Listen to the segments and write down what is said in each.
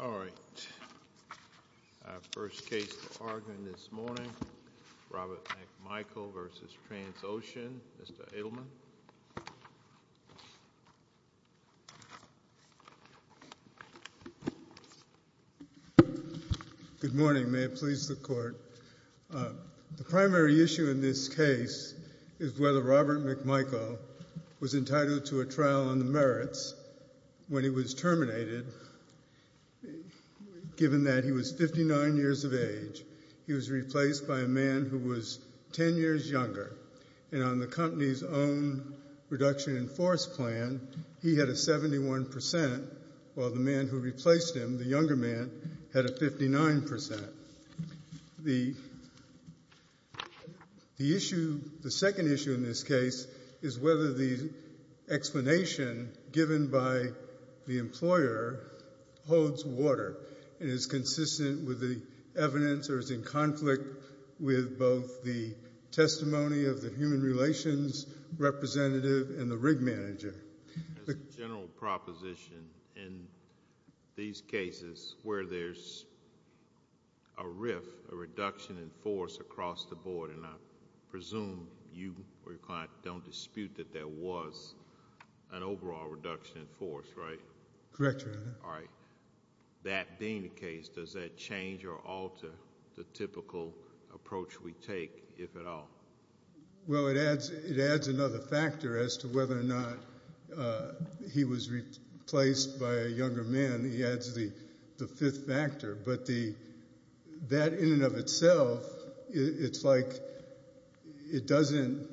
All right. First case to argue this morning, Robert McMichael v. Transocean. Mr. Edelman. Good morning. May it please the Court. The primary issue in this case is whether Robert on the merits when he was terminated, given that he was 59 years of age, he was replaced by a man who was 10 years younger. And on the company's own reduction in force plan, he had a 71%, while the man who replaced him, the younger man, had a 59%. The issue, the determination given by the employer holds water and is consistent with the evidence or is in conflict with both the testimony of the human relations representative and the rig manager. As a general proposition, in these cases where there's a rift, a reduction in force across the board, and I presume you or your client don't dispute that there was an overall reduction in force, right? Correct, Your Honor. All right. That being the case, does that change or alter the typical approach we take, if at all? Well, it adds another factor as to whether or not he was replaced by a younger man. He that in and of itself, it's like it doesn't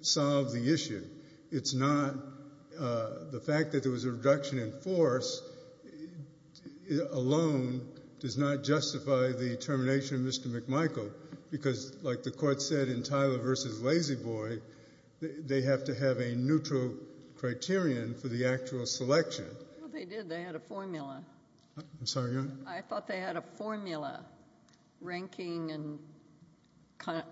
solve the issue. It's not the fact that there was a reduction in force alone does not justify the termination of Mr. McMichael, because like the court said in Tyler v. Lazy Boy, they have to have a neutral criterion for the actual selection. Well, they did. They had a formula. I'm sorry, Your Honor? I thought they had a formula, ranking and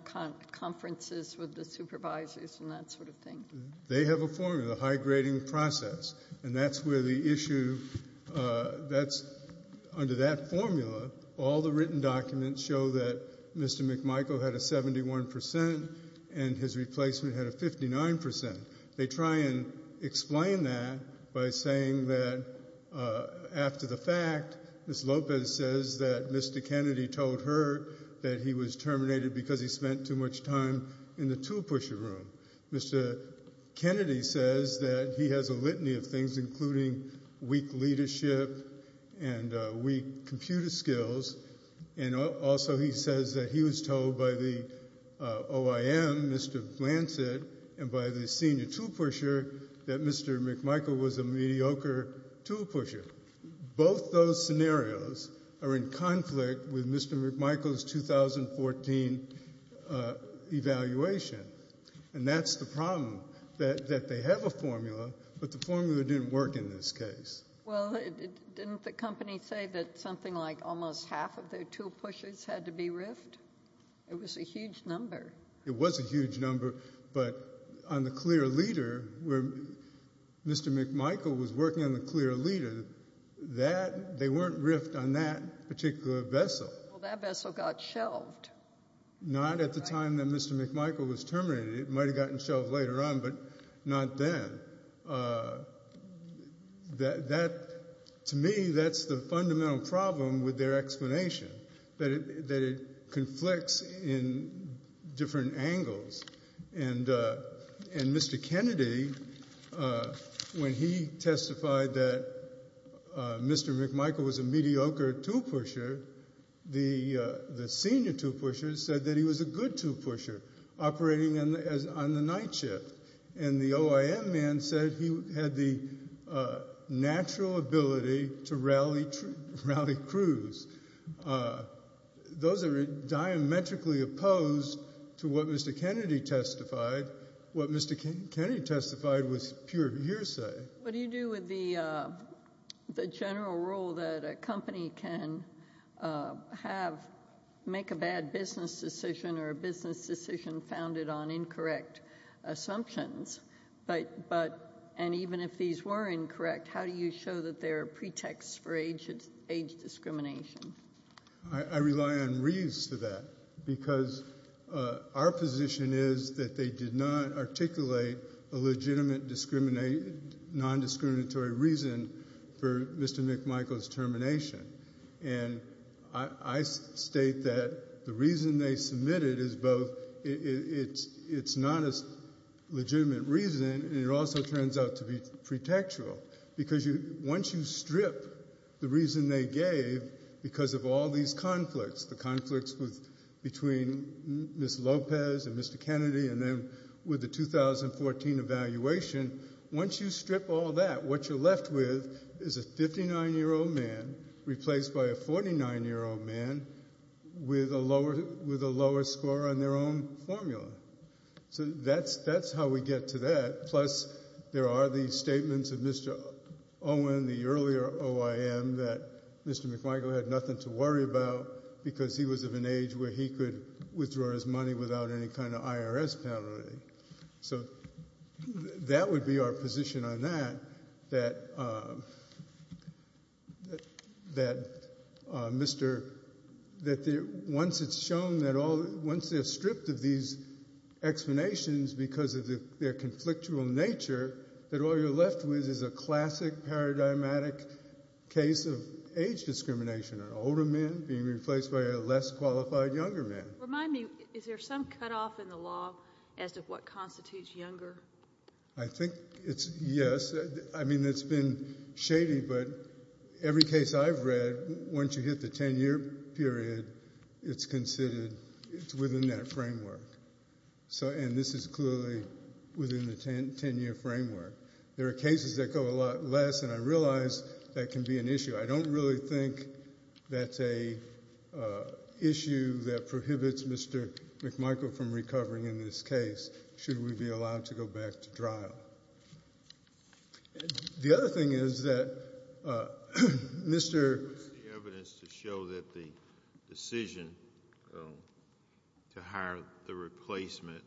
conferences with the supervisors and that sort of thing. They have a formula, a high-grading process, and that's where the issue, that's under that formula, all the written documents show that Mr. McMichael had a 71% and his replacement had a 59%. They try and explain that by saying that after the fact, Ms. Lopez says that Mr. Kennedy told her that he was terminated because he spent too much time in the tool pusher room. Mr. Kennedy says that he has a litany of things, including weak leadership and weak leadership, and by the senior tool pusher that Mr. McMichael was a mediocre tool pusher. Both those scenarios are in conflict with Mr. McMichael's 2014 evaluation, and that's the problem, that they have a formula, but the formula didn't work in this case. Well, didn't the company say that something like almost half of their tool pushers had to be riffed? It was a huge number. It was a huge number, but on the clear leader, where Mr. McMichael was working on the clear leader, they weren't riffed on that particular vessel. Well, that vessel got shelved. Not at the time that Mr. McMichael was terminated. It might have gotten shelved later on, but not then. To me, that's the fundamental problem with their explanation, that it conflicts in different angles, and Mr. Kennedy, when he testified that Mr. McMichael was a mediocre tool pusher, the senior tool pusher said that he was a good tool pusher operating on the night shift, and the OIM man said he had the natural ability to rally crews. Those are diametrically opposed to what Mr. Kennedy testified. What Mr. Kennedy testified was pure hearsay. What do you do with the general rule that a company can make a bad business decision or a business decision founded on incorrect assumptions, and even if these were incorrect, how do you show that there are pretexts for age discrimination? I rely on reads for that, because our position is that they did not articulate a legitimate non-discriminatory reason for Mr. McMichael's termination. I state that the reason they submitted is both it's not a legitimate reason, and it also turns out to be pretextual, because once you strip the reason they gave because of all these conflicts, the conflicts between Ms. Lopez and Mr. Kennedy, and then with the 2014 evaluation, once you strip all that, what you're left with is a 59-year-old man replaced by a 49-year-old man with a lower score on their own formula. That's how we get to that, plus there are these statements of Mr. Owen, the earlier OIM, that Mr. McMichael had nothing to worry about because he was of an age where he could withdraw his money without any kind of IRS penalty. That would be our position on that, that once it's shown that once they're stripped of these explanations because of their conflictual nature, that all you're left with is a classic paradigmatic case of age discrimination, an older man being replaced by a less qualified younger man. Remind me, is there some cutoff in the law as to what constitutes younger? I think it's, yes. I mean, it's been shady, but every case I've read, once you hit the 10-year framework, there are cases that go a lot less, and I realize that can be an issue. I don't really think that's a issue that prohibits Mr. McMichael from recovering in this case should we be allowed to go back to trial. The other thing is that Mr. What's the evidence to show that the decision to hire the replacement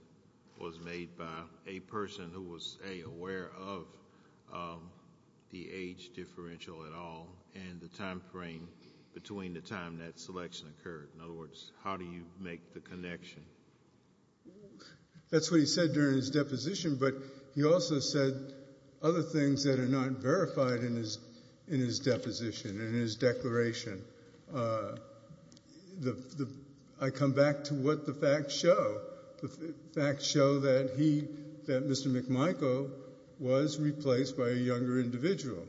was wrong? Was the decision made by a person who was, A, aware of the age differential at all, and the time frame between the time that selection occurred? In other words, how do you make the connection? That's what he said during his deposition, but he also said other things that are not verified in his deposition, in his declaration. I come back to what the facts show. The facts show that he, that Mr. McMichael was replaced by a younger individual,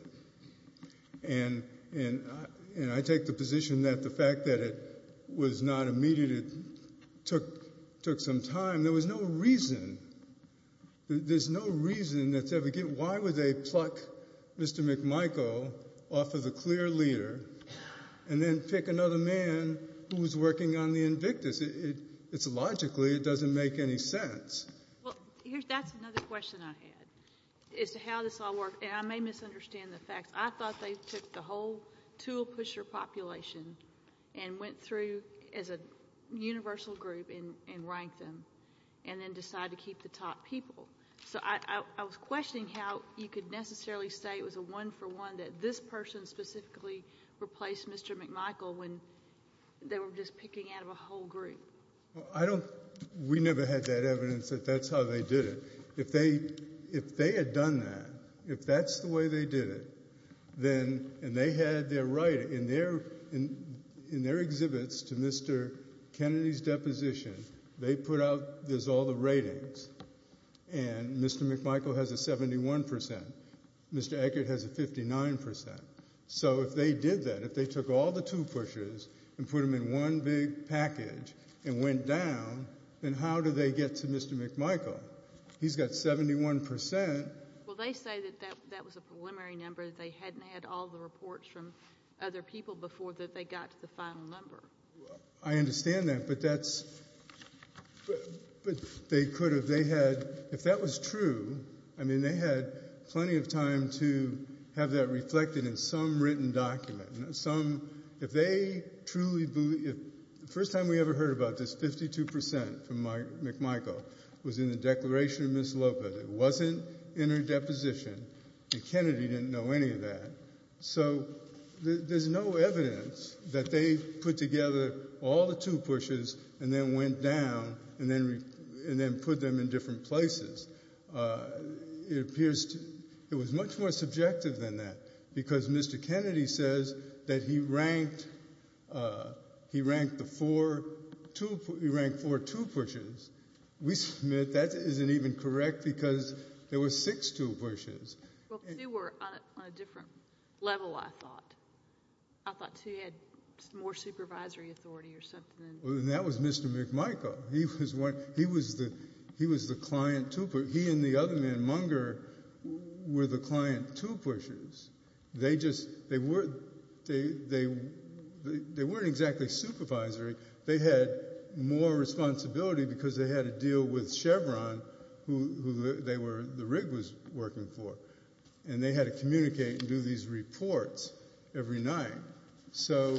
and I take the position that the fact that it was not immediate, it took some time. There was no reason. There's no reason that's ever given. Why would they pluck Mr. McMichael off of the clear leader and then pick another man who was working on the Invictus? It's logically, it doesn't make any sense. That's another question I had, as to how this all worked. I may misunderstand the facts. I thought they took the whole tool pusher population and went through as a universal group and ranked them, and then decided to keep the top people. I was questioning how you could necessarily say it was a one for one, that this person specifically replaced Mr. McMichael when they were just picking out of a whole group. I don't, we never had that evidence that that's how they did it. If they had done that, if that's the way they did it, then, and they had their right, in their exhibits to Mr. Kennedy's deposition, they put out, there's all the ratings, and Mr. McMichael has a 71%, Mr. Eckert has a 59%. So if they did that, if they took all the tool pushers and put them in one big package, and went down, then how do they get to Mr. McMichael? He's got 71%. Well, they say that that was a preliminary number, that they hadn't had all the reports from other people before that they got to the final number. I understand that, but that's, but they could have, they had, if that was true, I mean, they had plenty of time to have that reflected in some written document. Some, if they truly believe, the first time we ever heard about this, 52% from McMichael was in the declaration of Ms. Lopez. It wasn't in her deposition, and Kennedy didn't know any of that. So there's no evidence that they put together all the tool pushers and then went down and then put them in different places. It appears to, it was much more subjective than that, because Mr. Kennedy says that he ranked, he ranked the four tool, he ranked four tool pushers. We submit that isn't even correct, because there were six tool pushers. Well, two were on a different level, I thought. I thought two had more supervisory authority or something. That was Mr. McMichael. He was one, he was the, he was the client tool pusher. He and the other man, Munger, were the client tool pushers. They just, they weren't, they weren't exactly supervisory. They had more responsibility because they had to deal with Chevron, who they were, the rig was working for. And they had to communicate and do these reports every night. So,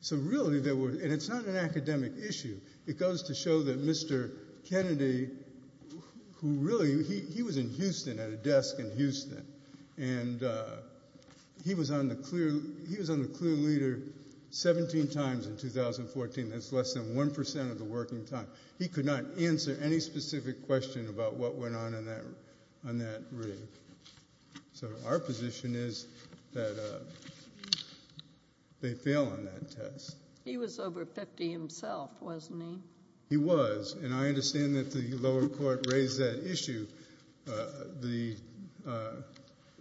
so really they were, and it's not an academic issue. It goes to show that Mr. Kennedy, who really, he was in Houston at a desk in Houston, and he was on the clear, he was on the clear leader 17 times in 2014. That's less than 1% of the working time. He could not answer any specific question about what went on in that, on that rig. So our position is that they fail on that test. He was over 50 himself, wasn't he? He was. And I understand that the lower court raised that issue. The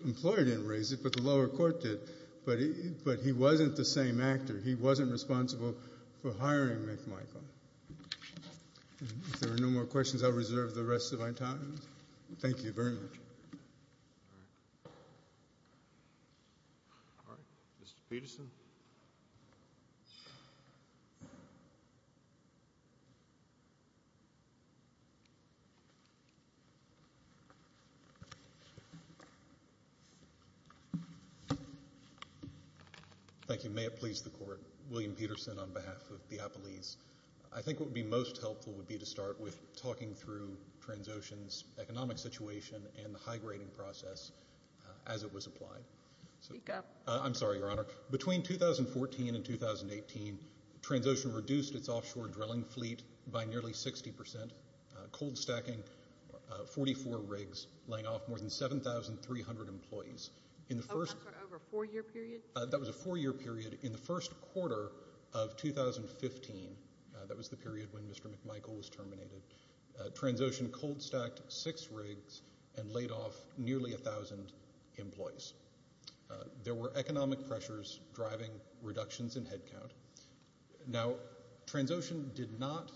employer didn't raise it, but the lower court did. But he, but he wasn't the same actor. He wasn't responsible for hiring McMichael. If there are no more questions, I'll reserve the rest of my time. Thank you very much. All right. Mr. Peterson. Thank you. May it please the court. William Peterson on behalf of Diapolese. I think what would be most helpful would be to start with talking through Transocean's economic situation and the high-grading process as it was applied. Speak up. I'm sorry, Your Honor. Between 2014 and 2018, Transocean reduced its offshore drilling fleet by nearly 60%, cold stacking 44 rigs, laying off more than 7,300 employees. Over a four-year period? That was a four-year period. In the first quarter of 2015, that was the period when Transocean laid off nearly 1,000 employees. There were economic pressures driving reductions in headcount. Now, Transocean did not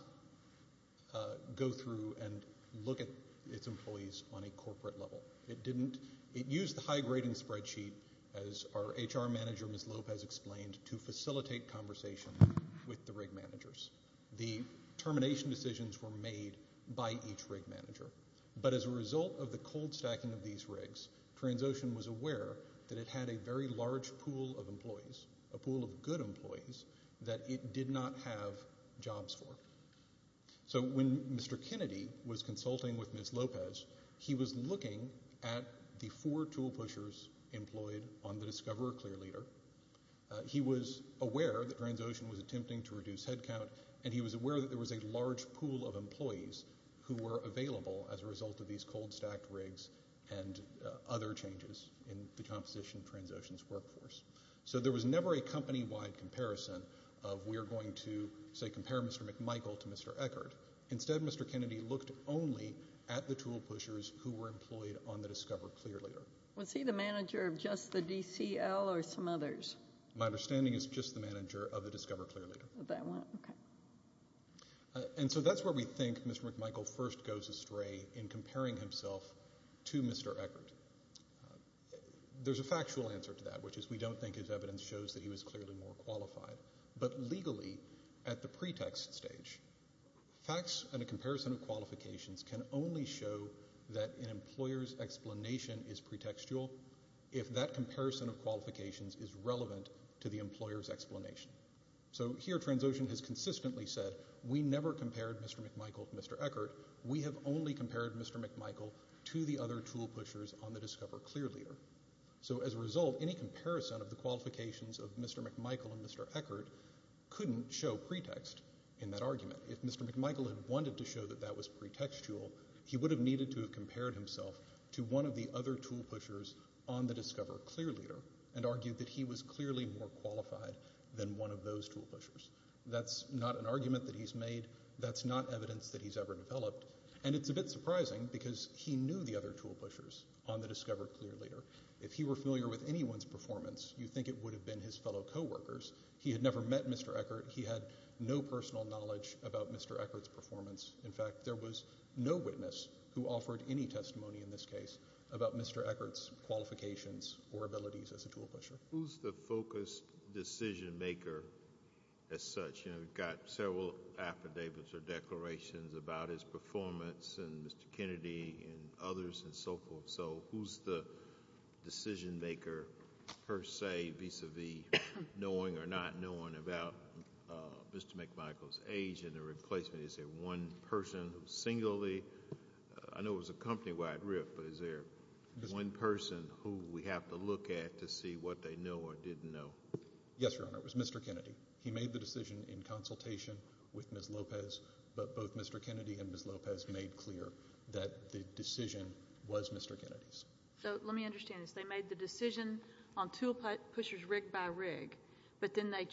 go through and look at its employees on a corporate level. It didn't. It used the high-grading spreadsheet, as our HR manager, Ms. Lopez, explained, to facilitate conversation with the rig managers. The termination decisions were made by each rig manager. But as a result of the cold stacking of these rigs, Transocean was aware that it had a very large pool of employees, a pool of good employees, that it did not have jobs for. So when Mr. Kennedy was consulting with Ms. Lopez, he was looking at the four tool pushers employed on the Discoverer Clearleader. He was aware that Transocean was attempting to these cold-stacked rigs and other changes in the composition of Transocean's workforce. So there was never a company-wide comparison of, we are going to, say, compare Mr. McMichael to Mr. Eckert. Instead, Mr. Kennedy looked only at the tool pushers who were employed on the Discoverer Clearleader. Was he the manager of just the DCL or some others? My understanding is just the manager of the Discoverer Clearleader. And so that's where we think Mr. McMichael first goes astray in comparing himself to Mr. Eckert. There's a factual answer to that, which is we don't think his evidence shows that he was clearly more qualified. But legally, at the pretext stage, facts and a comparison of qualifications can only show that an employer's explanation is pretextual if that comparison is not a fact. So here, Transocean has consistently said, we never compared Mr. McMichael to Mr. Eckert. We have only compared Mr. McMichael to the other tool pushers on the Discoverer Clearleader. So as a result, any comparison of the qualifications of Mr. McMichael and Mr. Eckert couldn't show pretext in that argument. If Mr. McMichael had wanted to show that that was pretextual, he would have needed to have compared himself to one of the other tool pushers on the Discoverer Clearleader and argued that he was clearly more qualified than one of those tool pushers. That's not an argument that he's made. That's not evidence that he's ever developed. And it's a bit surprising because he knew the other tool pushers on the Discoverer Clearleader. If he were familiar with anyone's performance, you'd think it would have been his fellow co-workers. He had never met Mr. Eckert. He had no personal knowledge about Mr. Eckert's performance. In fact, there was no witness who offered any testimony in this case about Mr. Eckert's qualifications or abilities as a tool pusher. Who's the focused decision maker as such? We've got several affidavits or declarations about his performance and Mr. Kennedy and others and so forth. So who's the decision maker, per se, vis-a-vis knowing or not knowing about Mr. McMichael's age and the replacement? Is there one person who singly, I know it was a company-wide riff, but is there one person who we have to look at to see what they know or didn't know? Yes, Your Honor. It was Mr. Kennedy. He made the decision in consultation with Ms. Lopez, but both Mr. Kennedy and Ms. Lopez made clear that the decision was Mr. Kennedy's. So let me understand this. They made the decision on tool pushers rig by rig, but then they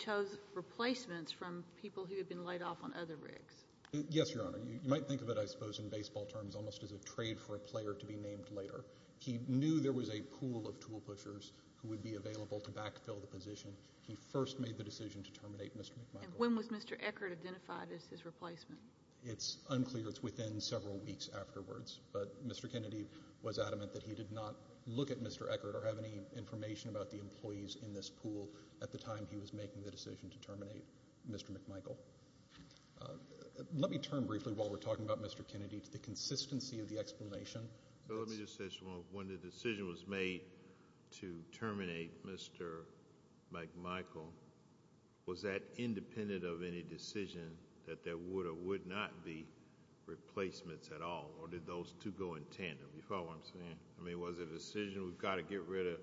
Yes, Your Honor. You might think of it, I suppose, in baseball terms almost as a trade for a player to be named later. He knew there was a pool of tool pushers who would be available to backfill the position. He first made the decision to terminate Mr. McMichael. When was Mr. Eckert identified as his replacement? It's unclear. It's within several weeks afterwards. But Mr. Kennedy was adamant that he did not look at Mr. Eckert or have any information about the employees in this pool at the time he was making the decision to terminate Mr. McMichael. Let me turn briefly while we're talking about Mr. Kennedy to the consistency of the explanation. Let me just say something. When the decision was made to terminate Mr. McMichael, was that independent of any decision that there would or would not be replacements at all, or did those two go in tandem? You follow what I'm saying? I mean, was it a decision, we've got to get rid of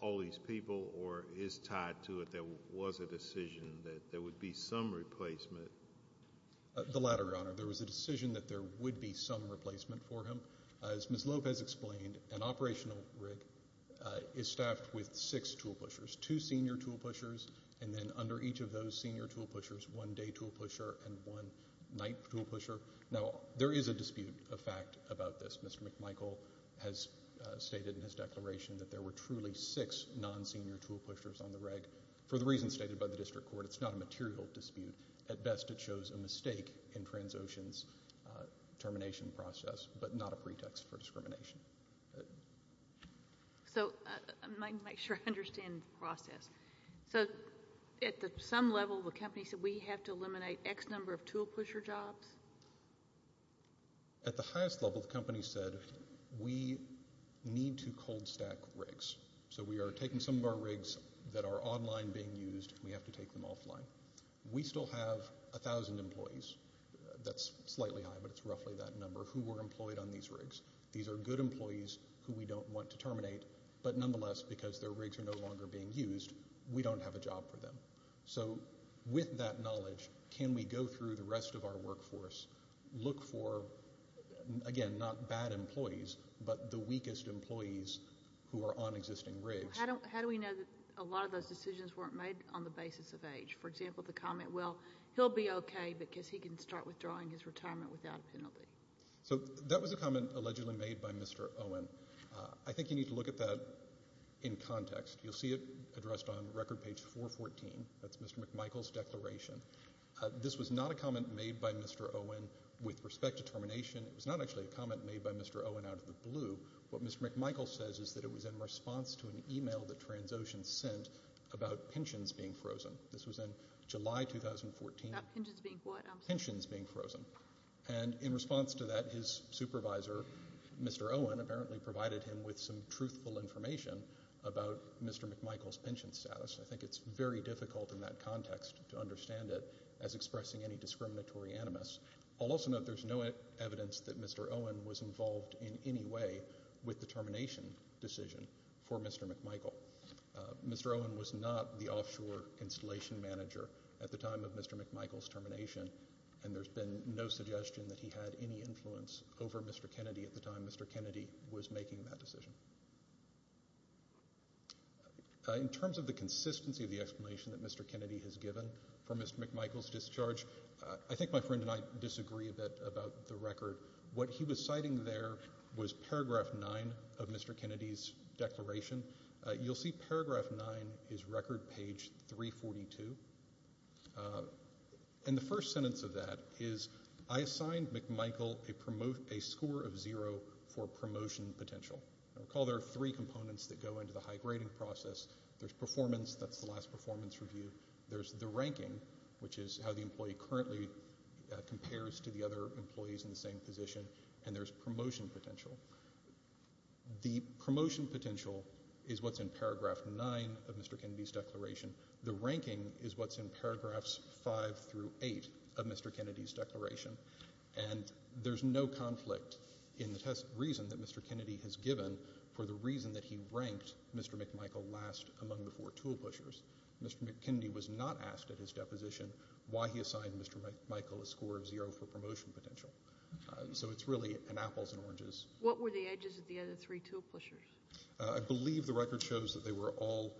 all these people, or is tied to it, there was a decision that there would be some replacement? The latter, Your Honor. There was a decision that there would be some replacement for him. As Ms. Lopez explained, an operational rig is staffed with six tool pushers, two senior tool pushers, and then under each of those senior tool pushers, one day tool pusher and one night tool pusher. Now, there is a dispute of fact about this. Mr. McMichael has stated in his declaration that there were truly six non-senior tool pushers on the rig. For the reasons stated by the district court, it's not a material dispute. At best, it shows a mistake in Transocean's termination process, but not a pretext for discrimination. So, I might make sure I understand the process. So, at some level, the company said we have to eliminate X number of tool pusher jobs? At the highest level, the company said we need to cold stack rigs. So, we are taking some of our rigs that are online being used, we have to take them offline. We still have a thousand employees, that's slightly high, but it's roughly that number, who were employed on these rigs. These are good employees who we don't want to terminate, but nonetheless, because their rigs are no longer being used, we don't have a job for them. So, with that knowledge, can we go through the rest of our workforce, look for, again, not bad employees, but the weakest employees who are on existing rigs? How do we know that a lot of those decisions weren't made on the basis of age? For example, the comment, well, he'll be okay because he can start withdrawing his retirement without a penalty. So, that was a comment allegedly made by Mr. Owen. I think you need to look at that in This was not a comment made by Mr. Owen with respect to termination. It was not actually a comment made by Mr. Owen out of the blue. What Mr. McMichael says is that it was in response to an email that Transocean sent about pensions being frozen. This was in July 2014. About pensions being what? Pensions being frozen. And in response to that, his supervisor, Mr. Owen, apparently provided him with some truthful information about Mr. McMichael's pension status. I think it's very difficult in that context to understand it as expressing any discriminatory animus. I'll also note there's no evidence that Mr. Owen was involved in any way with the termination decision for Mr. McMichael. Mr. Owen was not the offshore installation manager at the time of Mr. McMichael's termination, and there's been no suggestion that he had any influence over Mr. Kennedy at the time Mr. Kennedy was making that decision. In terms of the consistency of the explanation that Mr. Kennedy has given for Mr. McMichael's discharge, I think my friend and I disagree a bit about the record. What he was citing there was paragraph 9 of Mr. Kennedy's declaration. You'll see paragraph 9 is record page 342, and the first sentence of that is, I assigned McMichael a score of zero for promotion potential. Recall there are three components that go into the high-grading process. There's performance, that's the last performance review. There's the ranking, which is how the employee currently compares to the other employees in the same position, and there's promotion potential. The promotion potential is what's in paragraph 9 of Mr. Kennedy's declaration. The ranking is what's in paragraphs 5 through 8 of Mr. Kennedy's declaration, and there's no conflict in the test reason that Mr. Kennedy has given for the reason that he ranked Mr. McMichael last among the four tool pushers. Mr. Kennedy was not asked at his deposition why he assigned Mr. McMichael a score of zero for promotion potential. So it's really an apples and oranges. What were the ages of the other three tool pushers? I believe the record shows that they were all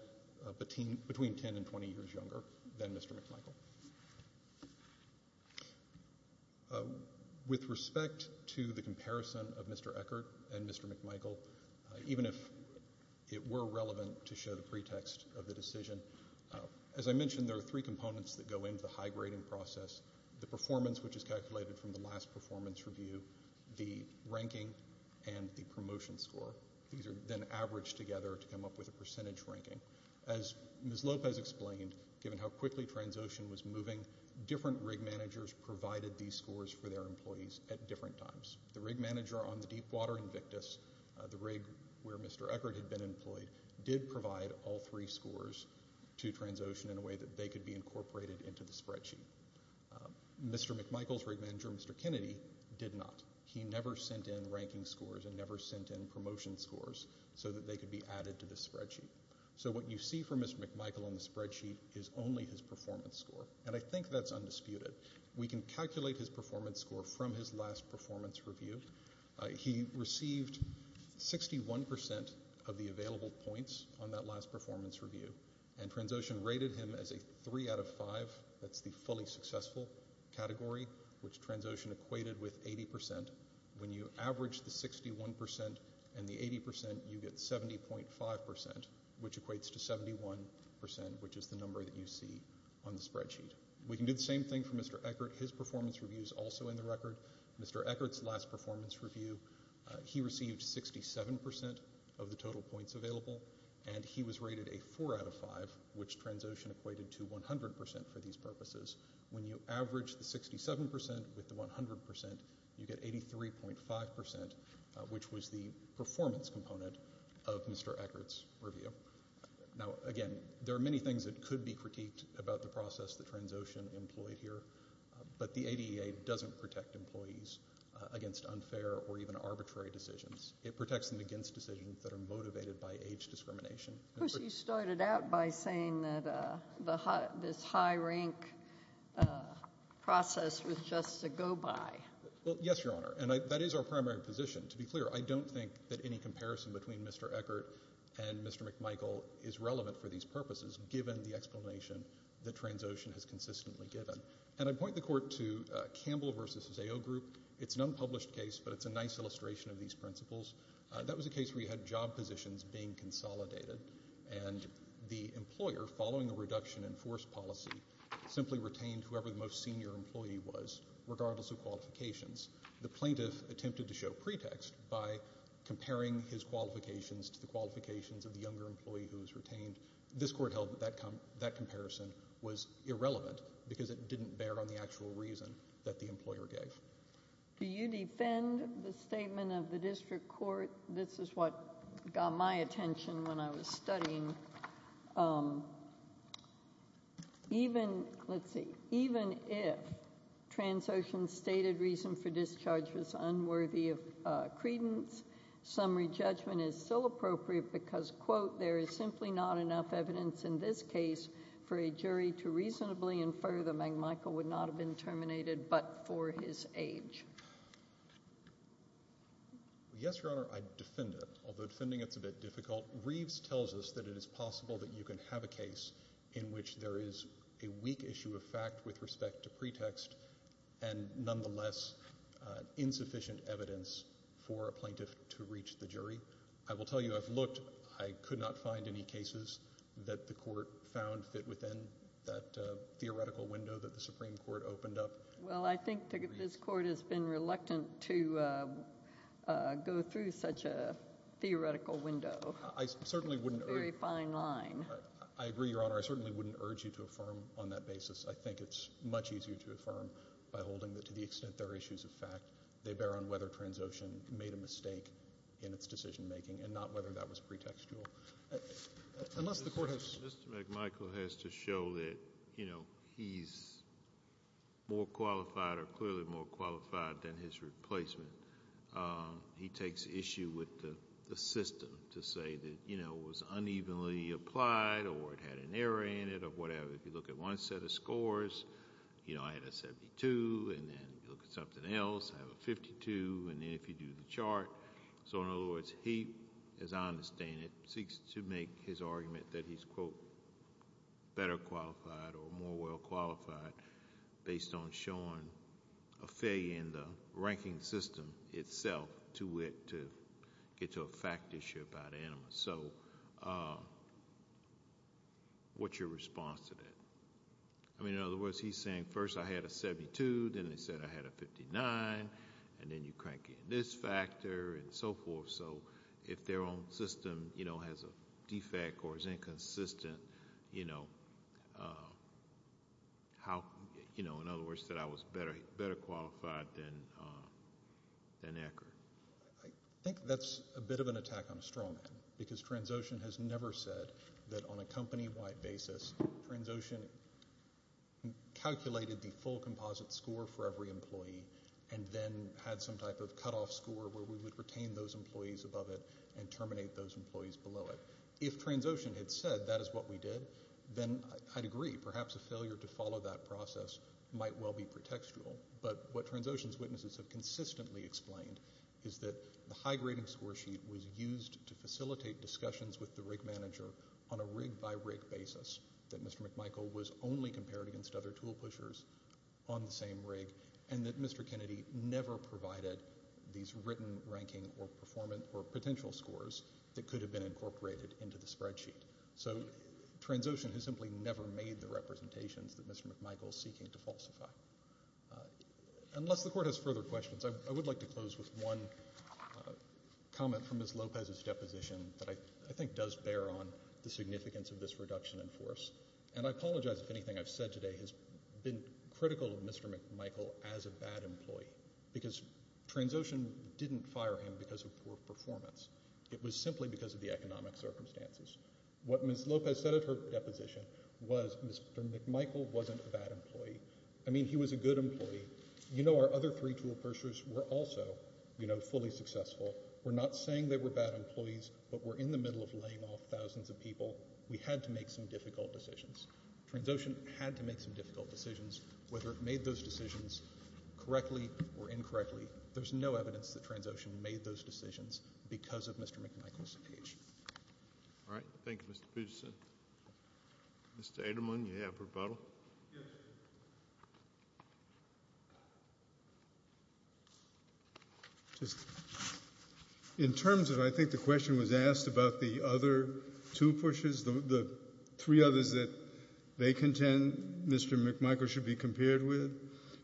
between 10 and 20 years younger than Mr. McMichael. With respect to the comparison of Mr. Eckert and Mr. McMichael, even if it were relevant to show the pretext of the decision, as I mentioned, there are three components that go into the high-grading process. The performance, which is calculated from the last performance review, the ranking, and the promotion score. These are then averaged together to come up with a percentage ranking. As Ms. Lopez explained, given how quickly Transocean was moving, different rig managers provided these scores for their employees at different times. The rig manager on the Deepwater Invictus, the rig where Mr. Eckert had been employed, did provide all three scores to Transocean in a way that they could be incorporated into the spreadsheet. Mr. McMichael's rig manager, Mr. Kennedy, did not. He never sent in ranking scores and never sent in promotion scores so that they could be added to the performance score. I think that's undisputed. We can calculate his performance score from his last performance review. He received 61% of the available points on that last performance review and Transocean rated him as a 3 out of 5. That's the fully successful category, which Transocean equated with 80%. When you average the 61% and the 80%, you get 70.5%, which equates to 71%, which is the number that you see on the spreadsheet. We can do the same thing for Mr. Eckert. His performance review is also in the record. Mr. Eckert's last performance review, he received 67% of the total points available and he was rated a 4 out of 5, which Transocean equated to 100% for these purposes. When you average the 67% with the 100%, you get 83.5%, which was the performance component of Mr. Eckert's last performance review. Now, again, there are many things that could be critiqued about the process that Transocean employed here, but the ADA doesn't protect employees against unfair or even arbitrary decisions. It protects them against decisions that are motivated by age discrimination. Of course, you started out by saying that this high-rank process was just a go-by. Well, yes, Your Honor, and that is our primary position. To be clear, I don't think that any comparison between Mr. Eckert and Mr. McMichael is relevant for these purposes, given the explanation that Transocean has consistently given. And I point the Court to Campbell v. Zao Group. It's an unpublished case, but it's a nice illustration of these principles. That was a case where you had job positions being consolidated and the employer, following a reduction in forced policy, simply retained whoever the most senior employee was, regardless of qualifications. The plaintiff attempted to show pretext by comparing his qualifications to the qualifications of the younger employee who was retained. This Court held that that comparison was irrelevant, because it didn't bear on the actual reason that the employer gave. Do you defend the statement of the District Court? This is what got my attention when I was studying. Even if Transocean's stated reason for discharge was unworthy of credence, summary judgment is still appropriate because, quote, there is simply not enough evidence in this case for a jury to reasonably infer that McMichael would not have been terminated but for his age. Yes, Your Honor, I defend it, although defending it is a bit difficult. Reeves tells us that it is possible that you can have a case in which there is a weak issue of fact with respect to pretext and, nonetheless, insufficient evidence for a plaintiff to reach the jury. I will tell you, I've looked. I could not find any cases that the Court found fit within that theoretical window that the Supreme Court opened up. Well, I think that this Court has been reluctant to go through such a theoretical window. I certainly wouldn't urge you to affirm on that basis. I think it's much easier to affirm by holding that to the extent there are issues of fact, they bear on whether Transocean made a mistake in its decision making and not whether that was pretextual. Mr. McMichael has to show that he's more qualified or clearly more qualified than his replacement. He takes issue with the system to say that it was unevenly applied or it had an error in it or whatever. If you look at one set of scores, I had a 72, and then you look at something else, I have a 52, and then if you do the chart. In other words, he, as I understand it, seeks to make his argument that he's, quote, better qualified or more well qualified based on showing a failure in the ranking system itself to get to a fact issue about what's your response to that. In other words, he's saying, first I had a 72, then he said I had a 59, and then you crank in this factor and so forth. If their own system has a defect or is inconsistent, in other words, that I was better qualified than Eckhart. I think that's a bit of an attack on a straw man, because Transocean has never said that on a company-wide basis, Transocean calculated the full composite score for every employee and then had some type of cutoff score where we would retain those employees above it and terminate those employees below it. If Transocean had said that is what we did, then I'd agree, perhaps a failure to follow that process might well be pretextual, but what Transocean's argument explained is that the high-grading score sheet was used to facilitate discussions with the rig manager on a rig-by-rig basis, that Mr. McMichael was only compared against other tool pushers on the same rig, and that Mr. Kennedy never provided these written ranking or performance or potential scores that could have been incorporated into the spreadsheet. So Transocean has simply never made the representations that Mr. McMichael is seeking to falsify. Unless the Court has further questions, I would like to close with one comment from Ms. Lopez's deposition that I think does bear on the significance of this reduction in force, and I apologize if anything I've said today has been critical of Mr. McMichael as a bad employee, because Transocean didn't fire him because of poor performance. It was simply because of the economic circumstances. What Ms. Lopez said at her deposition was Mr. McMichael wasn't a bad employee. I mean, he was a good employee. You know, our other three tool pushers were also, you know, fully successful. We're not saying they were bad employees, but we're in the middle of laying off thousands of people. We had to make some difficult decisions. Transocean had to make some difficult decisions, whether it made those decisions correctly or incorrectly. There's no evidence that Transocean made those decisions because of Mr. McMichael's speech. All right. Thank you, Mr. Pugetson. Mr. Adelman, you have rebuttal? Just in terms of, I think the question was asked about the other two pushers, the three others that they contend Mr. McMichael should be compared with.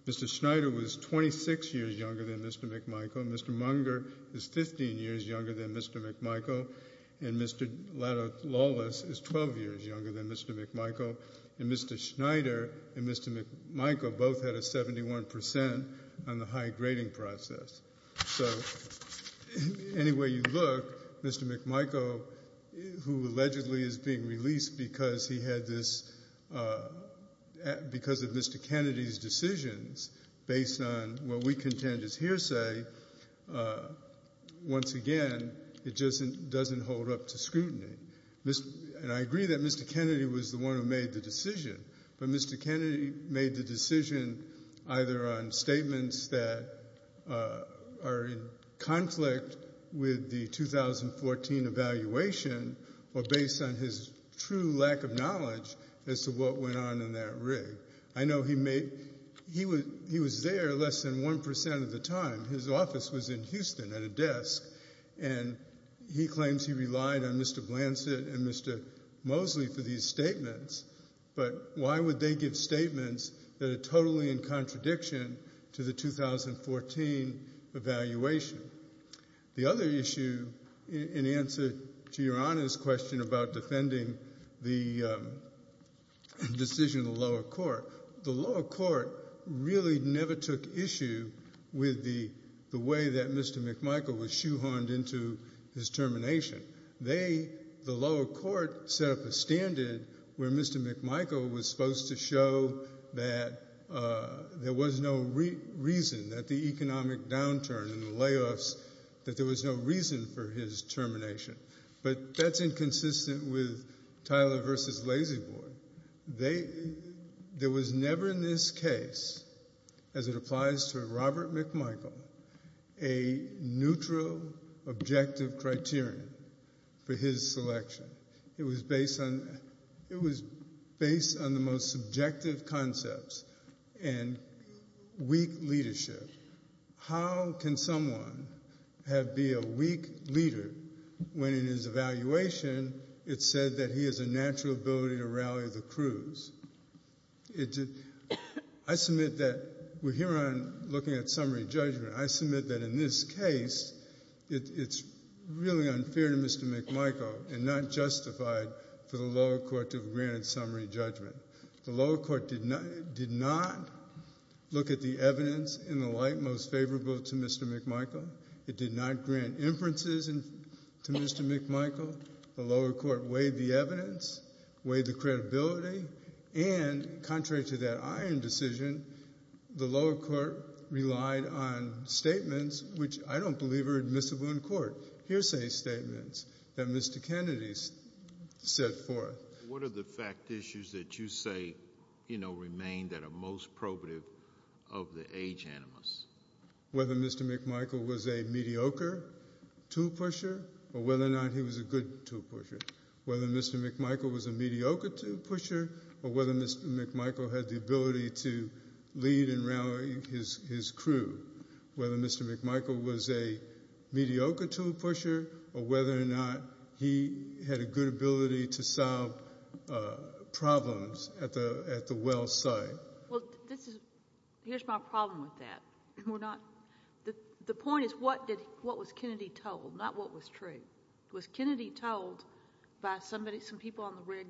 Mr. Schneider was 26 years younger than Mr. McMichael, and Mr. Lawless is 12 years younger than Mr. McMichael. And Mr. Schneider and Mr. McMichael both had a 71 percent on the high grading process. So, any way you look, Mr. McMichael, who allegedly is being released because he had this, because of Mr. Kennedy's decisions based on what we contend is hearsay, once again, it just doesn't hold up to scrutiny. And I agree that Mr. Kennedy was the one who made the decision, but Mr. Kennedy made the decision either on statements that are in conflict with the 2014 evaluation or based on his true lack of knowledge as to what went on in that rig. I know he made, he was there less than one percent of the time. His office was in Houston at a desk and he claims he relied on Mr. Blanchett and Mr. Mosley for these statements, but why would they give statements that are totally in contradiction to the 2014 evaluation? The other issue in answer to Your Honor's question about defending the decision of the lower court, the lower court really never took issue with the way that Mr. McMichael was shoehorned into his termination. They, the lower court, set up a standard where Mr. McMichael was supposed to show that there was no reason that the economic downturn and the layoffs, that there was no reason for his termination. But that's inconsistent with Tyler versus Lazy Boy. They, there was never in this case, as it applies to Robert McMichael, a neutral objective criterion for his selection. It was based on, it was based on the most subjective concepts and weak leadership. How can someone have, be a weak leader when in his evaluation it said that he has a natural ability to rally the crews? I submit that we're here on looking at summary judgment. I submit that in this case, it's really unfair to Mr. McMichael and not justified for the lower court to have granted summary judgment. The lower court did not look at the evidence in the light most favorable to Mr. McMichael. It did not grant inferences to Mr. McMichael. The lower court weighed the evidence, weighed the credibility, and contrary to that iron decision, the lower court relied on statements, which I don't believe are admissible in court, hearsay statements that Mr. Kennedy set forth. What are the fact issues that you say, you know, remain that are most probative of the age animus? Whether Mr. McMichael was a mediocre tool pusher or whether or not he was a good tool pusher. Whether Mr. McMichael was a mediocre tool pusher or whether Mr. McMichael had the ability to lead and rally his crew. Whether Mr. McMichael was a mediocre tool pusher or whether or not he had a good ability to solve problems at the well site. Well, here's my problem with that. The point is what was Kennedy told, not what was true. Was Kennedy told by somebody, some people on the rig,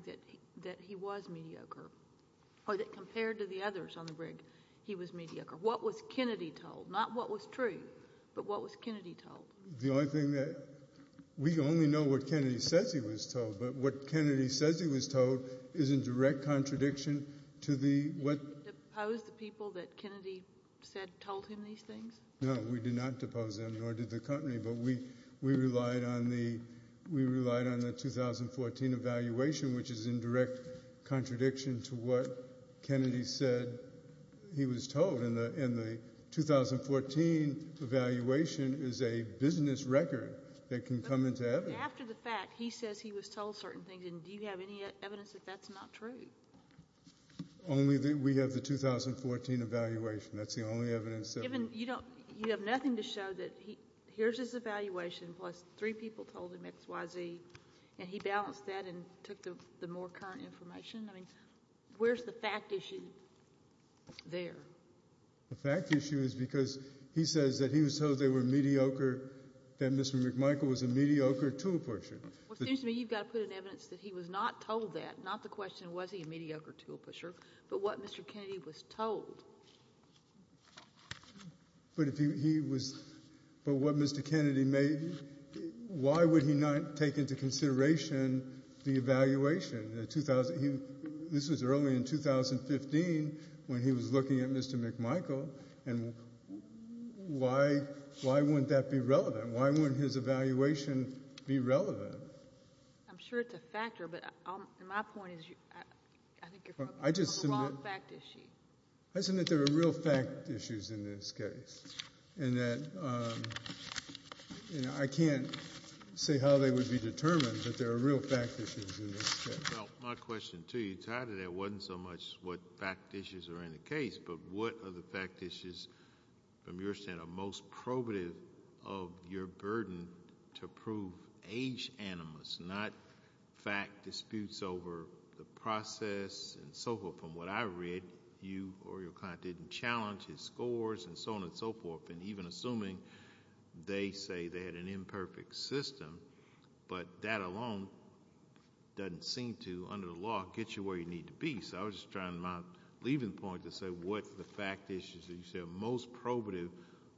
that he was mediocre or that compared to the others on the rig, he was mediocre? What was Kennedy told, not what was true, but what was Kennedy told? The only thing that, we only know what Kennedy says he was told, but what Kennedy says he was told is in direct contradiction to the... Did you depose the people that Kennedy said told him these things? No, we did not depose them, nor did the company, but we relied on the 2014 evaluation, which is in direct contradiction to what Kennedy said he was told. And the 2014 evaluation is a business record that can come into evidence. After the fact, he says he was told certain things, and do you have any evidence that that's not true? Only that we have the 2014 evaluation. That's the only evidence that... Even, you don't, you have nothing to show that he, here's his evaluation, plus three people told him X, Y, Z, and he balanced that and took the more current information. I mean, where's the fact issue there? The fact issue is because he says that he was told they were mediocre, that Mr. McMichael was a mediocre tool pusher. Well, it seems to me you've got to put in evidence that he was not told that, not the question was he a mediocre tool pusher, but what Mr. Kennedy was told. But if he was, but what Mr. Kennedy made, why would he not take into consideration the evaluation? This was early in 2015 when he was looking at Mr. McMichael, and why wouldn't that be relevant? Why wouldn't his evaluation be relevant? I'm sure it's a factor, but my point is, I think you're from the wrong fact issue. I assume that there are real fact issues in this case, and that, you know, I can't say how they would be determined, but there are real fact issues in this case. Well, my question to you, tied to that wasn't so much what fact issues are in the case, but what are the fact issues, from your stand, are most probative of your burden to prove age animus, not fact disputes over the process and so forth. From what I read, you or your client didn't challenge his scores and so on and so forth, and even assuming they say they had an imperfect system, but that alone doesn't seem to, under the law, get you where you need to be. So I was just trying to, in my leaving point, to say what the fact issues that you said are most probative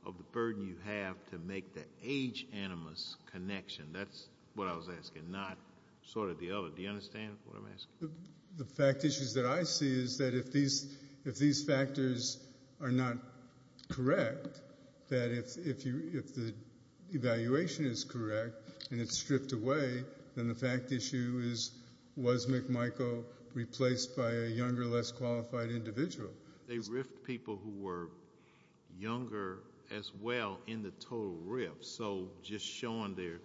of the burden you have to make the age animus connection. That's what I was asking, not sort of the other. Do you understand what I'm asking? The fact issues that I see is that if these factors are not correct, that if the evaluation is correct and it's stripped away, then the fact issue is, was McMichael replaced by a younger, less qualified individual? They riffed people who were younger as well in the total riff, so just showing their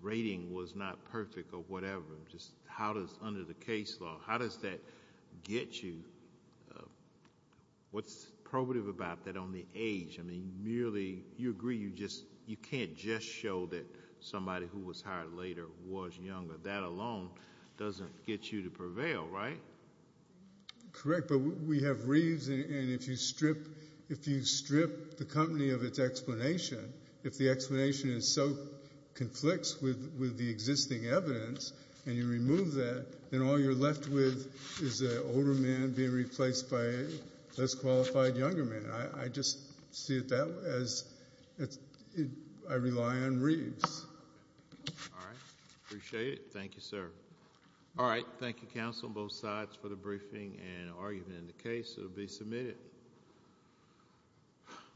rating was not perfect or whatever, just how does, under the case law, how does that get you? What's probative about that on the age? I mean, merely, you agree, you just, you can't just show that somebody who was hired later was younger. That alone doesn't get you to prevail, right? Correct, but we have Reeves, and if you strip, if you strip the company of its explanation, if the explanation is so, conflicts with the existing evidence, and you remove that, then all you're left with is an older man being replaced by a younger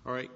man.